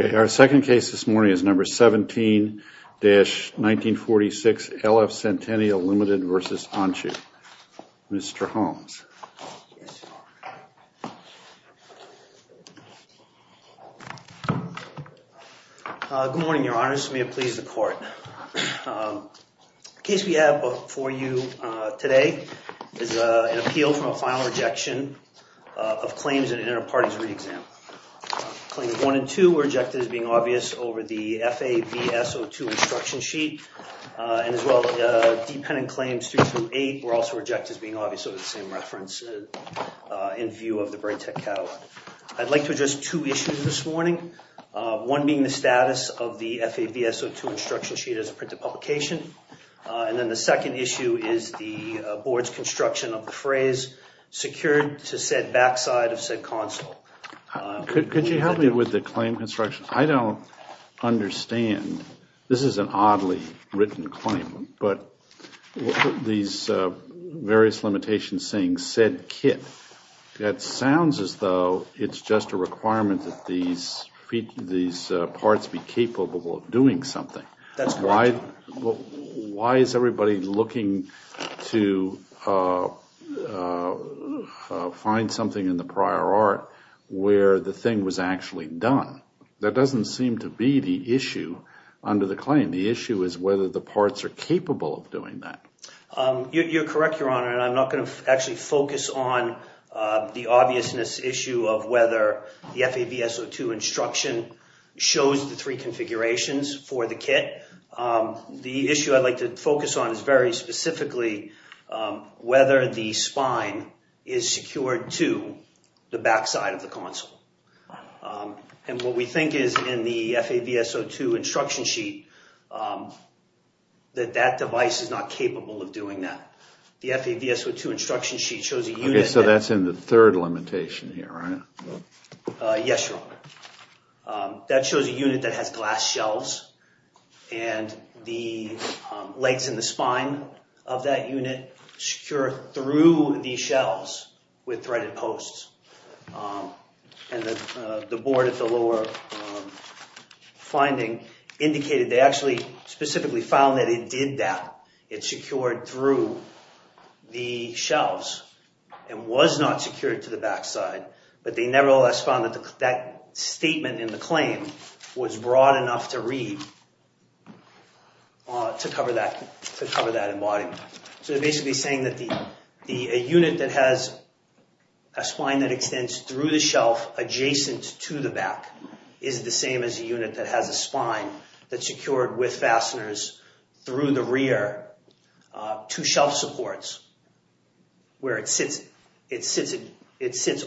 Okay, our second case this morning is number 17-1946 LF Centennial Limited v. Iancu. Mr. Good morning, your honors. May it please the court. The case we have for you today is an appeal from a final rejection of claims in an inter-parties re-exam. Claims 1 and 2 were rejected as being obvious over the FAVSO2 instruction sheet, and as well as dependent claims 328 were also rejected as being obvious over the same reference in view of the Bright Tech Catalog. I'd like to address two issues this morning, one being the status of the FAVSO2 instruction sheet as a printed publication, and then the second issue is the board's construction of the phrase secured to said backside of said console. Could you help me with the claim construction? I don't understand. This is an oddly written claim, but these various limitations saying said kit, that sounds as though it's just a requirement that these parts be capable of doing something. Why is everybody looking to find something in the prior art where the thing was actually done? That doesn't seem to be the issue under the claim. The issue is whether the parts are capable of doing that. You're correct, Your Honor, and I'm not going to actually focus on the obviousness issue of whether the FAVSO2 instruction shows the three configurations for the kit. The issue I'd like to focus on is very specifically whether the spine is secured to the backside of the console. What we think is in the FAVSO2 instruction sheet, that that device is not capable of doing that. The FAVSO2 instruction sheet shows a unit that has glass shelves, and the legs and the spine of that unit secure through these shelves with threaded posts. The board at the lower finding indicated they actually specifically found that it did that. It secured through the shelves and was not secured to the backside, but they nevertheless found that statement in the claim was broad enough to read to cover that embodiment. They're basically saying that a unit that has a spine that extends through the shelf adjacent to the back is the same as a unit that has a spine that's secured with fasteners through the rear to shelf supports, where it sits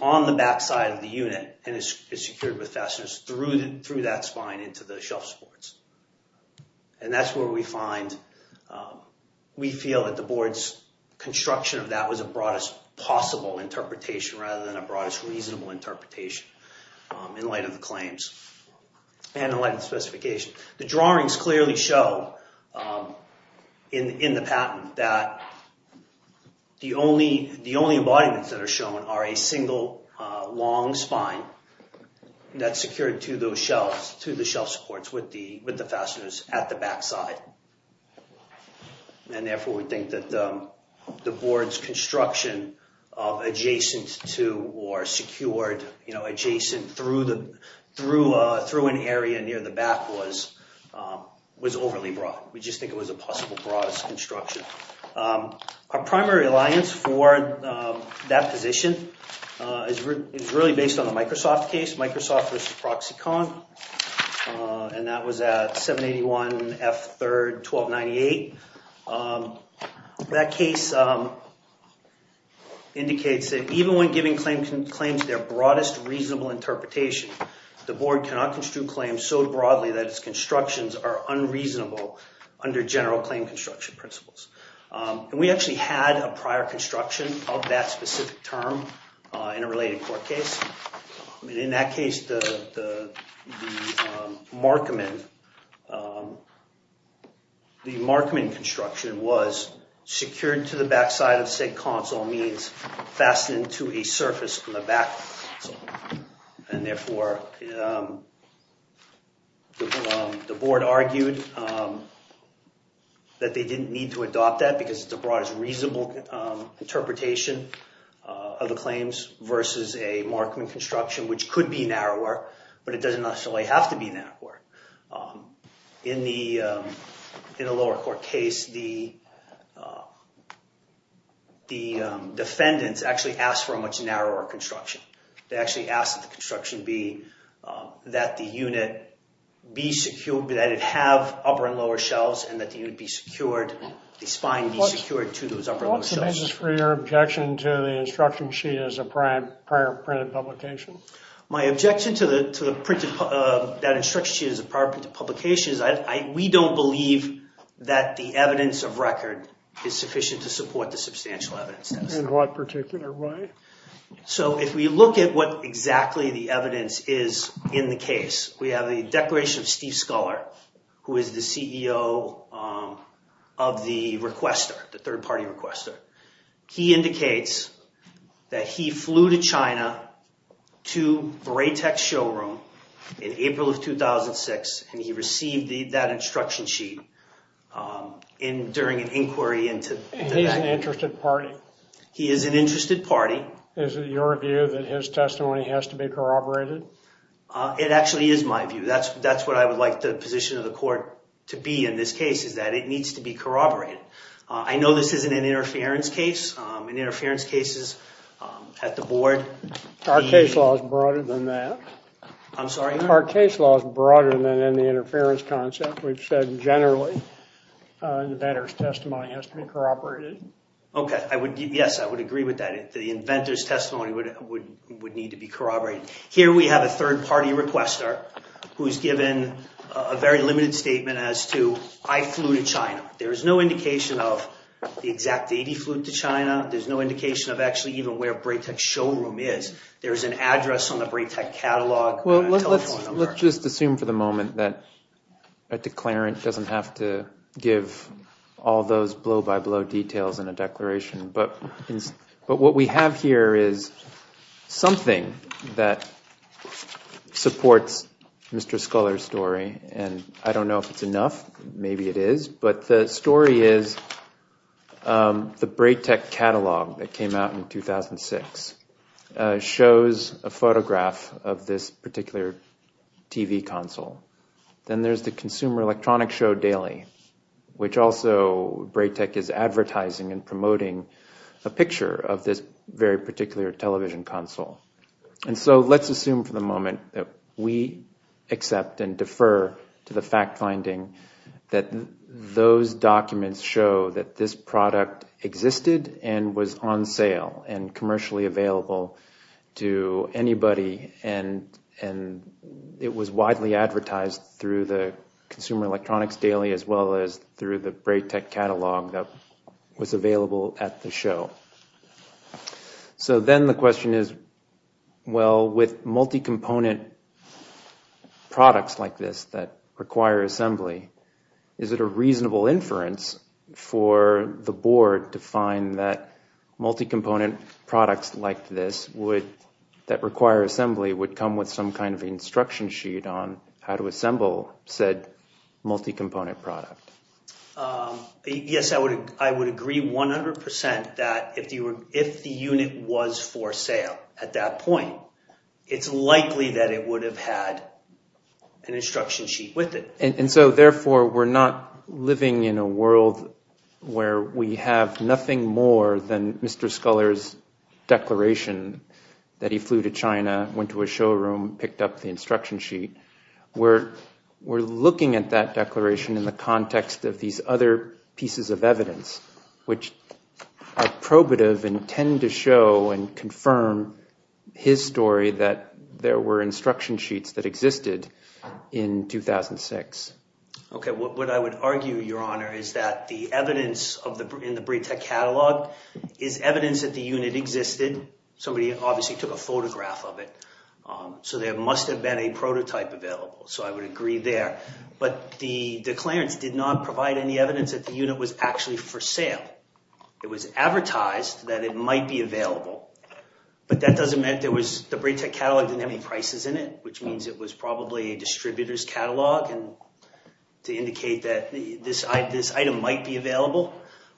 on the backside of the unit and is secured with fasteners through that spine into the shelf supports. That's where we find we feel that the board's construction of that was a broadest possible interpretation rather than a broadest reasonable interpretation in light of the claims and in light of the specification. The drawings clearly show in the patent that the only embodiments that are shown are a single long spine that's secured to the shelf supports with the fasteners at the backside. Therefore, we think that the board's construction of adjacent to or secured adjacent through an area near the back was overly broad. We just think it was a possible broadest construction. Our primary alliance for that position is really based on the Microsoft case, Microsoft versus ProxyCon, and that was at 781 F3, 1298. That case indicates that even when giving claims their broadest reasonable interpretation, the board cannot construe claims so broadly that its constructions are unreasonable under general claim construction principles. We actually had a prior construction of that specific term in a related court case. In that case, the Markman construction was secured to the backside of said console means fastened to a surface from the back, and therefore the board argued that they didn't need to adopt that because it's the broadest reasonable interpretation of the claims versus a Markman construction. Which could be narrower, but it doesn't necessarily have to be narrower. In the lower court case, the defendants actually asked for a much narrower construction. They actually asked that the construction be that the unit be secured, that it have upper and lower shelves, and that the unit be secured, the spine be secured to those upper and lower shelves. My objection to that instruction sheet as a prior printed publication is we don't believe that the evidence of record is sufficient to support the substantial evidence. In what particular way? If we look at what exactly the evidence is in the case, we have the declaration of Steve Sculler, who is the CEO of the requester, the third party requester. He indicates that he flew to China to Braytech showroom in April of 2006, and he received that instruction sheet during an inquiry into that. He's an interested party? He is an interested party. Is it your view that his testimony has to be corroborated? It actually is my view. That's what I would like the position of the court to be in this case, is that it needs to be corroborated. I know this isn't an interference case. In interference cases at the board... Our case law is broader than that. I'm sorry? Our case law is broader than in the interference concept. We've said generally that a testimony has to be corroborated. Okay. Yes, I would agree with that. The inventor's testimony would need to be corroborated. Here we have a third party requester who's given a very limited statement as to, I flew to China. There's no indication of the exact date he flew to China. There's no indication of actually even where Braytech showroom is. There's an address on the Braytech catalog telephone number. Let's just assume for the moment that a declarant doesn't have to give all those blow-by-blow details in a declaration. But what we have here is something that supports Mr. Scholar's story. And I don't know if it's enough. Maybe it is. But the story is the Braytech catalog that came out in 2006 shows a photograph of this particular TV console. Then there's the Consumer Electronics Show Daily, which also Braytech is advertising and promoting a picture of this very particular television console. And so let's assume for the moment that we accept and defer to the fact-finding that those documents show that this product existed and was on sale and commercially available to anybody. And it was widely advertised through the Consumer Electronics Daily as well as through the Braytech catalog that was available at the show. So then the question is, well, with multi-component products like this that require assembly, is it a reasonable inference for the board to find that multi-component products like this that require assembly would come with some kind of instruction sheet on how to assemble said multi-component product? Yes, I would agree 100% that if the unit was for sale at that point, it's likely that it would have had an instruction sheet with it. And so therefore, we're not living in a world where we have nothing more than Mr. Scholar's declaration that he flew to China, went to a showroom, picked up the instruction sheet. We're looking at that declaration in the context of these other pieces of evidence, which are probative and tend to show and confirm his story that there were instruction sheets that existed in 2006. Okay, what I would argue, Your Honor, is that the evidence in the Braytech catalog is evidence that the unit existed. Somebody obviously took a photograph of it. So there must have been a prototype available. So I would agree there. But the declarants did not provide any evidence that the unit was actually for sale. It was advertised that it might be available. But that doesn't mean there was – the Braytech catalog didn't have any prices in it, which means it was probably a distributor's catalog to indicate that this item might be available.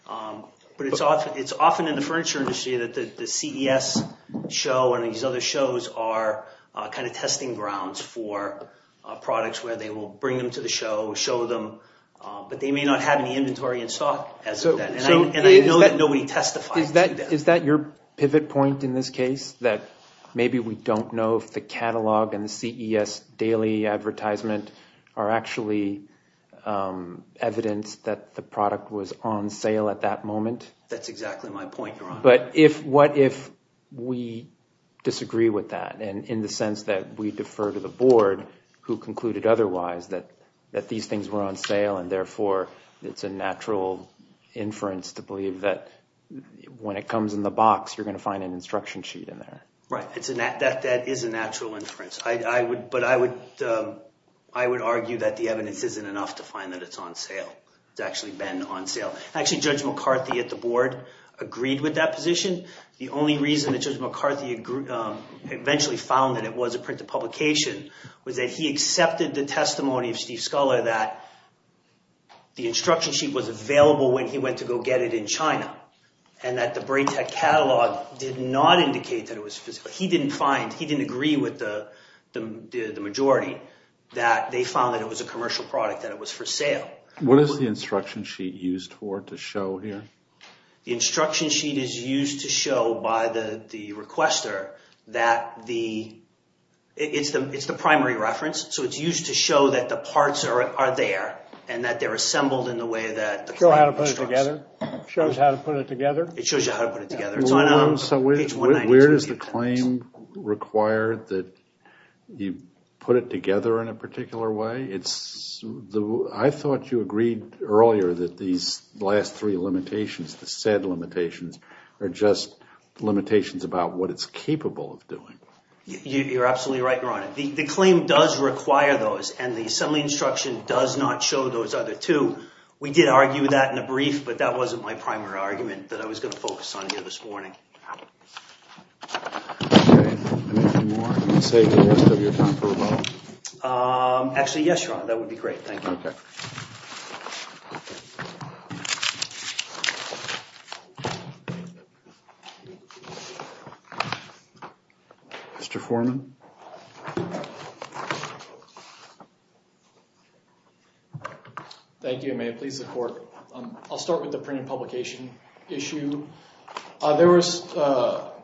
But it's often in the furniture industry that the CES show and these other shows are kind of testing grounds for products where they will bring them to the show, show them. But they may not have any inventory in stock as of then. And I know that nobody testified to that. Is that your pivot point in this case, that maybe we don't know if the catalog and the CES daily advertisement are actually evidence that the product was on sale at that moment? That's exactly my point, Your Honor. But if – what if we disagree with that in the sense that we defer to the board who concluded otherwise, that these things were on sale and therefore it's a natural inference to believe that when it comes in the box, you're going to find an instruction sheet in there? Right. That is a natural inference. But I would argue that the evidence isn't enough to find that it's on sale. It's actually been on sale. Actually, Judge McCarthy at the board agreed with that position. The only reason that Judge McCarthy eventually found that it was a printed publication was that he accepted the testimony of Steve Sculler that the instruction sheet was available when he went to go get it in China and that the Bray Tech catalog did not indicate that it was physical. He didn't find – he didn't agree with the majority that they found that it was a commercial product, that it was for sale. What is the instruction sheet used for to show here? The instruction sheet is used to show by the requester that the – it's the primary reference, so it's used to show that the parts are there and that they're assembled in the way that the claim instructs. It shows how to put it together? It shows you how to put it together. So where does the claim require that you put it together in a particular way? I thought you agreed earlier that these last three limitations, the said limitations, are just limitations about what it's capable of doing. You're absolutely right, Your Honor. The claim does require those and the assembly instruction does not show those other two. We did argue that in a brief, but that wasn't my primary argument that I was going to focus on here this morning. Okay. Anything more you want to say to the rest of your time for rebuttal? Actually, yes, Your Honor. That would be great. Thank you. Okay. Mr. Foreman? Thank you. May it please the Court. I'll start with the print and publication issue. There was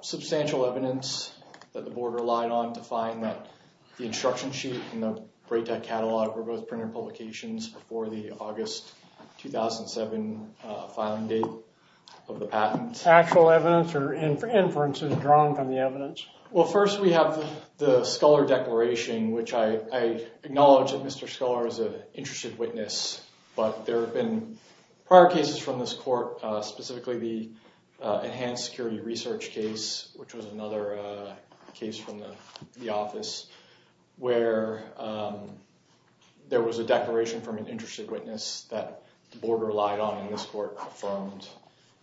substantial evidence that the Board relied on to find that the instruction sheet and the Braytec catalog were both printed publications before the August 2007 filing date of the patent. Actual evidence or inferences drawn from the evidence? Well, first we have the Scholar Declaration, which I acknowledge that Mr. Scholar is an interested witness. But there have been prior cases from this Court, specifically the enhanced security research case, which was another case from the office, where there was a declaration from an interested witness that the Board relied on and this Court confirmed.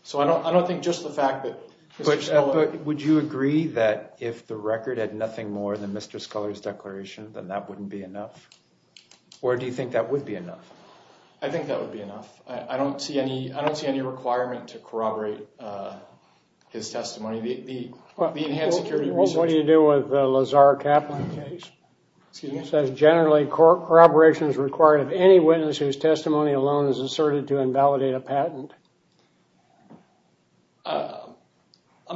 So I don't think just the fact that Mr. Scholar… But would you agree that if the record had nothing more than Mr. Scholar's declaration, then that wouldn't be enough? Or do you think that would be enough? I think that would be enough. I don't see any requirement to corroborate his testimony. The enhanced security research… What do you do with the Lazar Kaplan case? Excuse me? It says generally corroboration is required of any witness whose testimony alone is asserted to invalidate a patent. I'm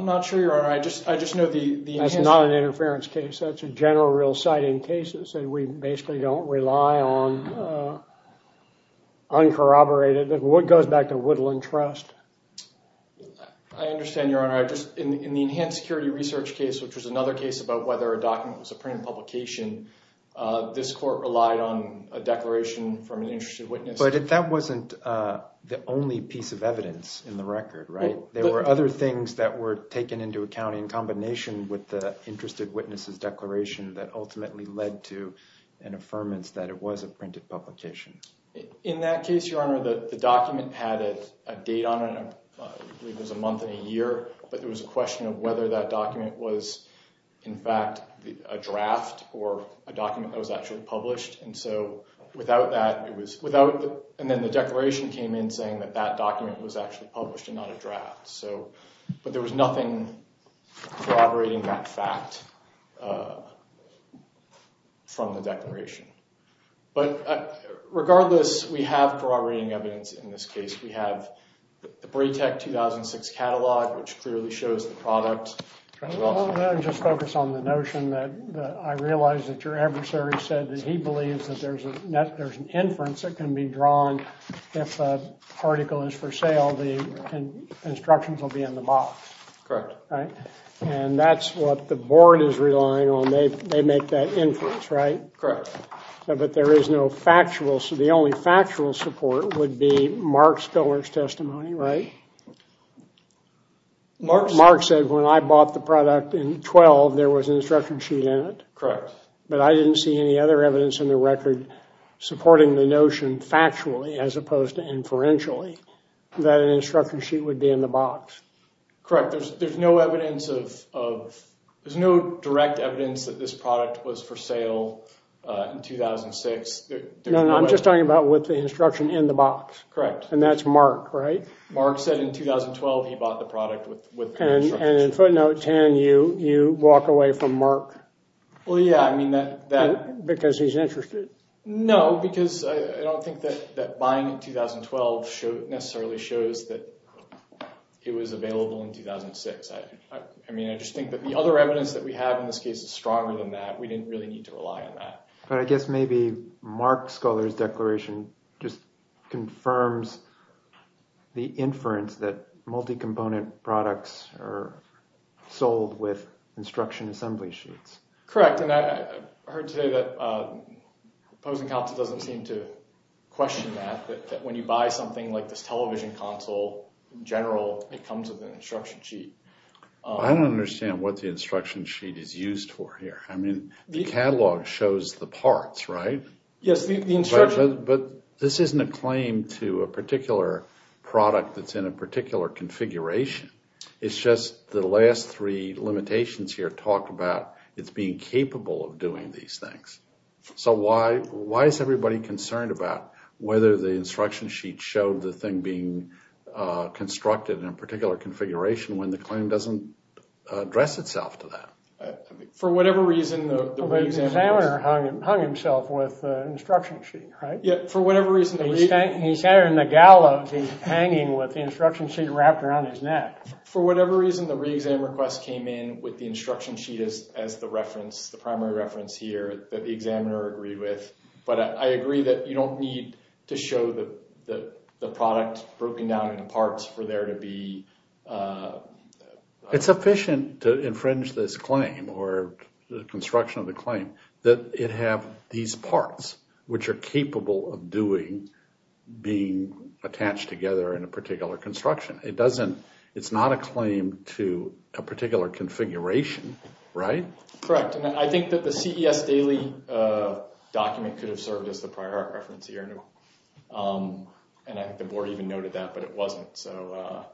not sure, Your Honor. I just know the… That's not an interference case. That's a general real sight in cases, and we basically don't rely on uncorroborated. It goes back to Woodland Trust. I understand, Your Honor. In the enhanced security research case, which was another case about whether a document was a printed publication, this Court relied on a declaration from an interested witness. But that wasn't the only piece of evidence in the record, right? There were other things that were taken into account in combination with the interested witness's declaration that ultimately led to an affirmance that it was a printed publication. In that case, Your Honor, the document had a date on it. I believe it was a month and a year, but there was a question of whether that document was, in fact, a draft or a document that was actually published. And so without that, it was without – and then the declaration came in saying that that document was actually published and not a draft. So – but there was nothing corroborating that fact from the declaration. But regardless, we have corroborating evidence in this case. We have the Braytech 2006 catalog, which clearly shows the product. Let me just focus on the notion that I realize that your adversary said that he believes that there's an inference that can be drawn. If a article is for sale, the instructions will be in the box. Correct. And that's what the Board is relying on. They make that inference, right? Correct. But there is no factual – the only factual support would be Mark Scholar's testimony, right? Mark said when I bought the product in 2012, there was an instruction sheet in it. Correct. But I didn't see any other evidence in the record supporting the notion factually, as opposed to inferentially, that an instruction sheet would be in the box. Correct. There's no evidence of – there's no direct evidence that this product was for sale in 2006. No, no, I'm just talking about with the instruction in the box. Correct. And that's Mark, right? Mark said in 2012 he bought the product with the instruction sheet. And in footnote 10, you walk away from Mark. Well, yeah, I mean that – Because he's interested. No, because I don't think that buying in 2012 necessarily shows that it was available in 2006. I mean, I just think that the other evidence that we have in this case is stronger than that. We didn't really need to rely on that. But I guess maybe Mark Scholar's declaration just confirms the inference that multi-component products are sold with instruction assembly sheets. Correct, and I heard today that Posen Council doesn't seem to question that, that when you buy something like this television console, in general, it comes with an instruction sheet. I don't understand what the instruction sheet is used for here. I mean, the catalog shows the parts, right? Yes, the instruction – But this isn't a claim to a particular product that's in a particular configuration. It's just the last three limitations here talk about it's being capable of doing these things. So why is everybody concerned about whether the instruction sheet showed the thing being constructed in a particular configuration when the claim doesn't address itself to that? For whatever reason – The examiner hung himself with the instruction sheet, right? Yeah, for whatever reason – He's hanging in the gallows, he's hanging with the instruction sheet wrapped around his neck. For whatever reason, the re-exam request came in with the instruction sheet as the reference, the primary reference here that the examiner agreed with. But I agree that you don't need to show the product broken down into parts for there to be – It's efficient to infringe this claim or the construction of the claim that it have these parts which are capable of doing – being attached together in a particular construction. It doesn't – it's not a claim to a particular configuration, right? Correct, and I think that the CES daily document could have served as the prior art reference here, and I think the board even noted that, but it wasn't. But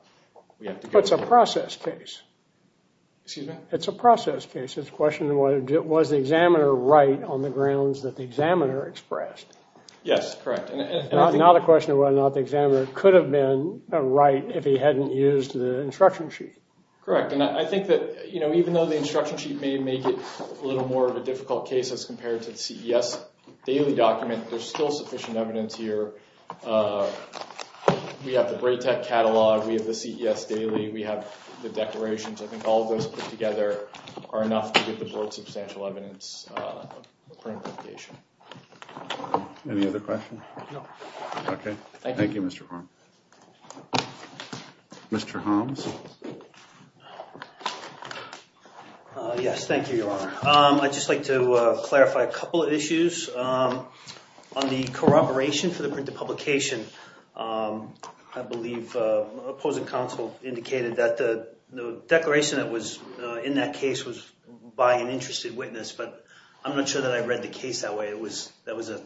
it's a process case. Excuse me? It's a process case. It's a question of whether – was the examiner right on the grounds that the examiner expressed? Yes, correct. Not a question of whether or not the examiner could have been right if he hadn't used the instruction sheet. Correct, and I think that, you know, even though the instruction sheet may make it a little more of a difficult case as compared to the CES daily document, there's still sufficient evidence here. We have the Braytec catalog. We have the CES daily. We have the declarations. I think all of those put together are enough to give the board substantial evidence for implication. Any other questions? No. Okay. Thank you, Mr. Holmes. Mr. Holmes? Yes, thank you, Your Honor. I'd just like to clarify a couple of issues. On the corroboration for the printed publication, I believe opposing counsel indicated that the declaration that was in that case was by an interested witness, but I'm not sure that I read the case that way. It was – that was an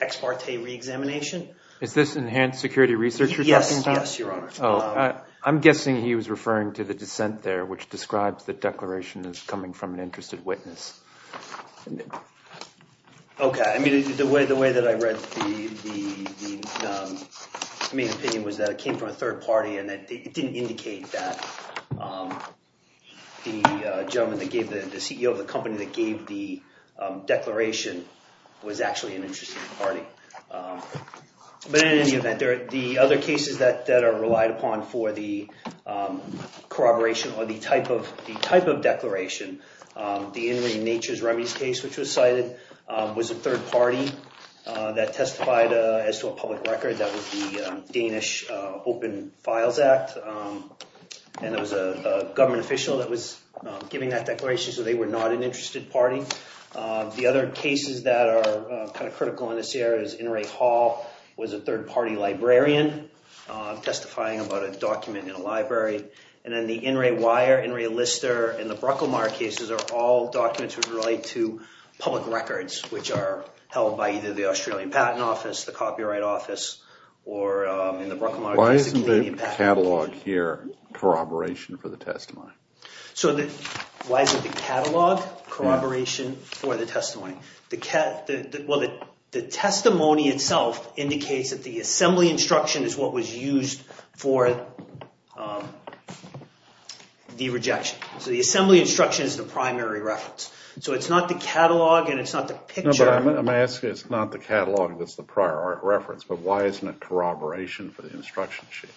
ex parte reexamination. Is this enhanced security research you're talking about? Yes, yes, Your Honor. I'm guessing he was referring to the dissent there, which describes the declaration as coming from an interested witness. Okay. I mean, the way that I read the main opinion was that it came from a third party and that it didn't indicate that the gentleman that gave the – the CEO of the company that gave the declaration was actually an interested party. But in any event, the other cases that are relied upon for the corroboration or the type of – the type of declaration, the Inmate Natures Remedies case, which was cited, was a third party that testified as to a public record. That was the Danish Open Files Act, and it was a government official that was giving that declaration, so they were not an interested party. The other cases that are kind of critical in this area is Inouye Hall was a third party librarian testifying about a document in a library. And then the Inouye Wire, Inouye Lister, and the Brucklemaier cases are all documents which relate to public records, which are held by either the Australian Patent Office, the Copyright Office, or in the Brucklemaier – Why isn't the catalog here corroboration for the testimony? So the – why isn't the catalog corroboration for the testimony? The – well, the testimony itself indicates that the assembly instruction is what was used for the rejection. So the assembly instruction is the primary reference. So it's not the catalog and it's not the picture. But I'm asking – it's not the catalog that's the prior reference, but why isn't it corroboration for the instruction sheet?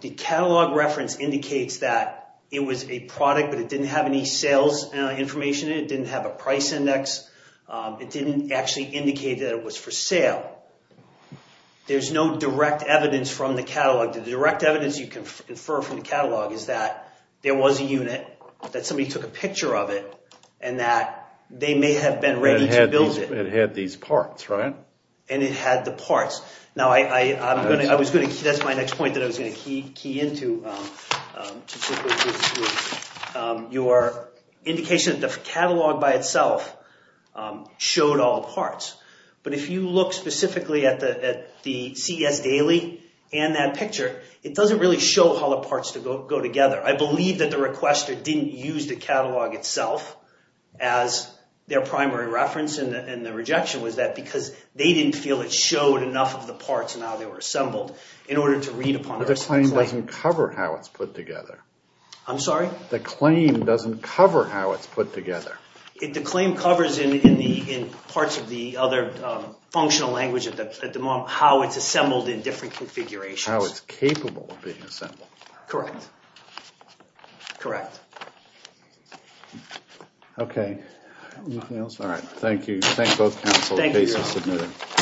The catalog reference indicates that it was a product, but it didn't have any sales information in it. It didn't have a price index. It didn't actually indicate that it was for sale. There's no direct evidence from the catalog. The direct evidence you can infer from the catalog is that there was a unit, that somebody took a picture of it, and that they may have been ready to build it. It had these parts, right? And it had the parts. Now, I'm going to – I was going to – that's my next point that I was going to key into particularly with your indication that the catalog by itself showed all parts. But if you look specifically at the CES daily and that picture, it doesn't really show how the parts go together. I believe that the requester didn't use the catalog itself as their primary reference. And the rejection was that because they didn't feel it showed enough of the parts and how they were assembled in order to read upon – But the claim doesn't cover how it's put together. I'm sorry? The claim doesn't cover how it's put together. The claim covers in parts of the other functional language at the moment how it's assembled in different configurations. How it's capable of being assembled. Correct. Correct. Okay. Anything else? All right. Thank you. Thank both counsel.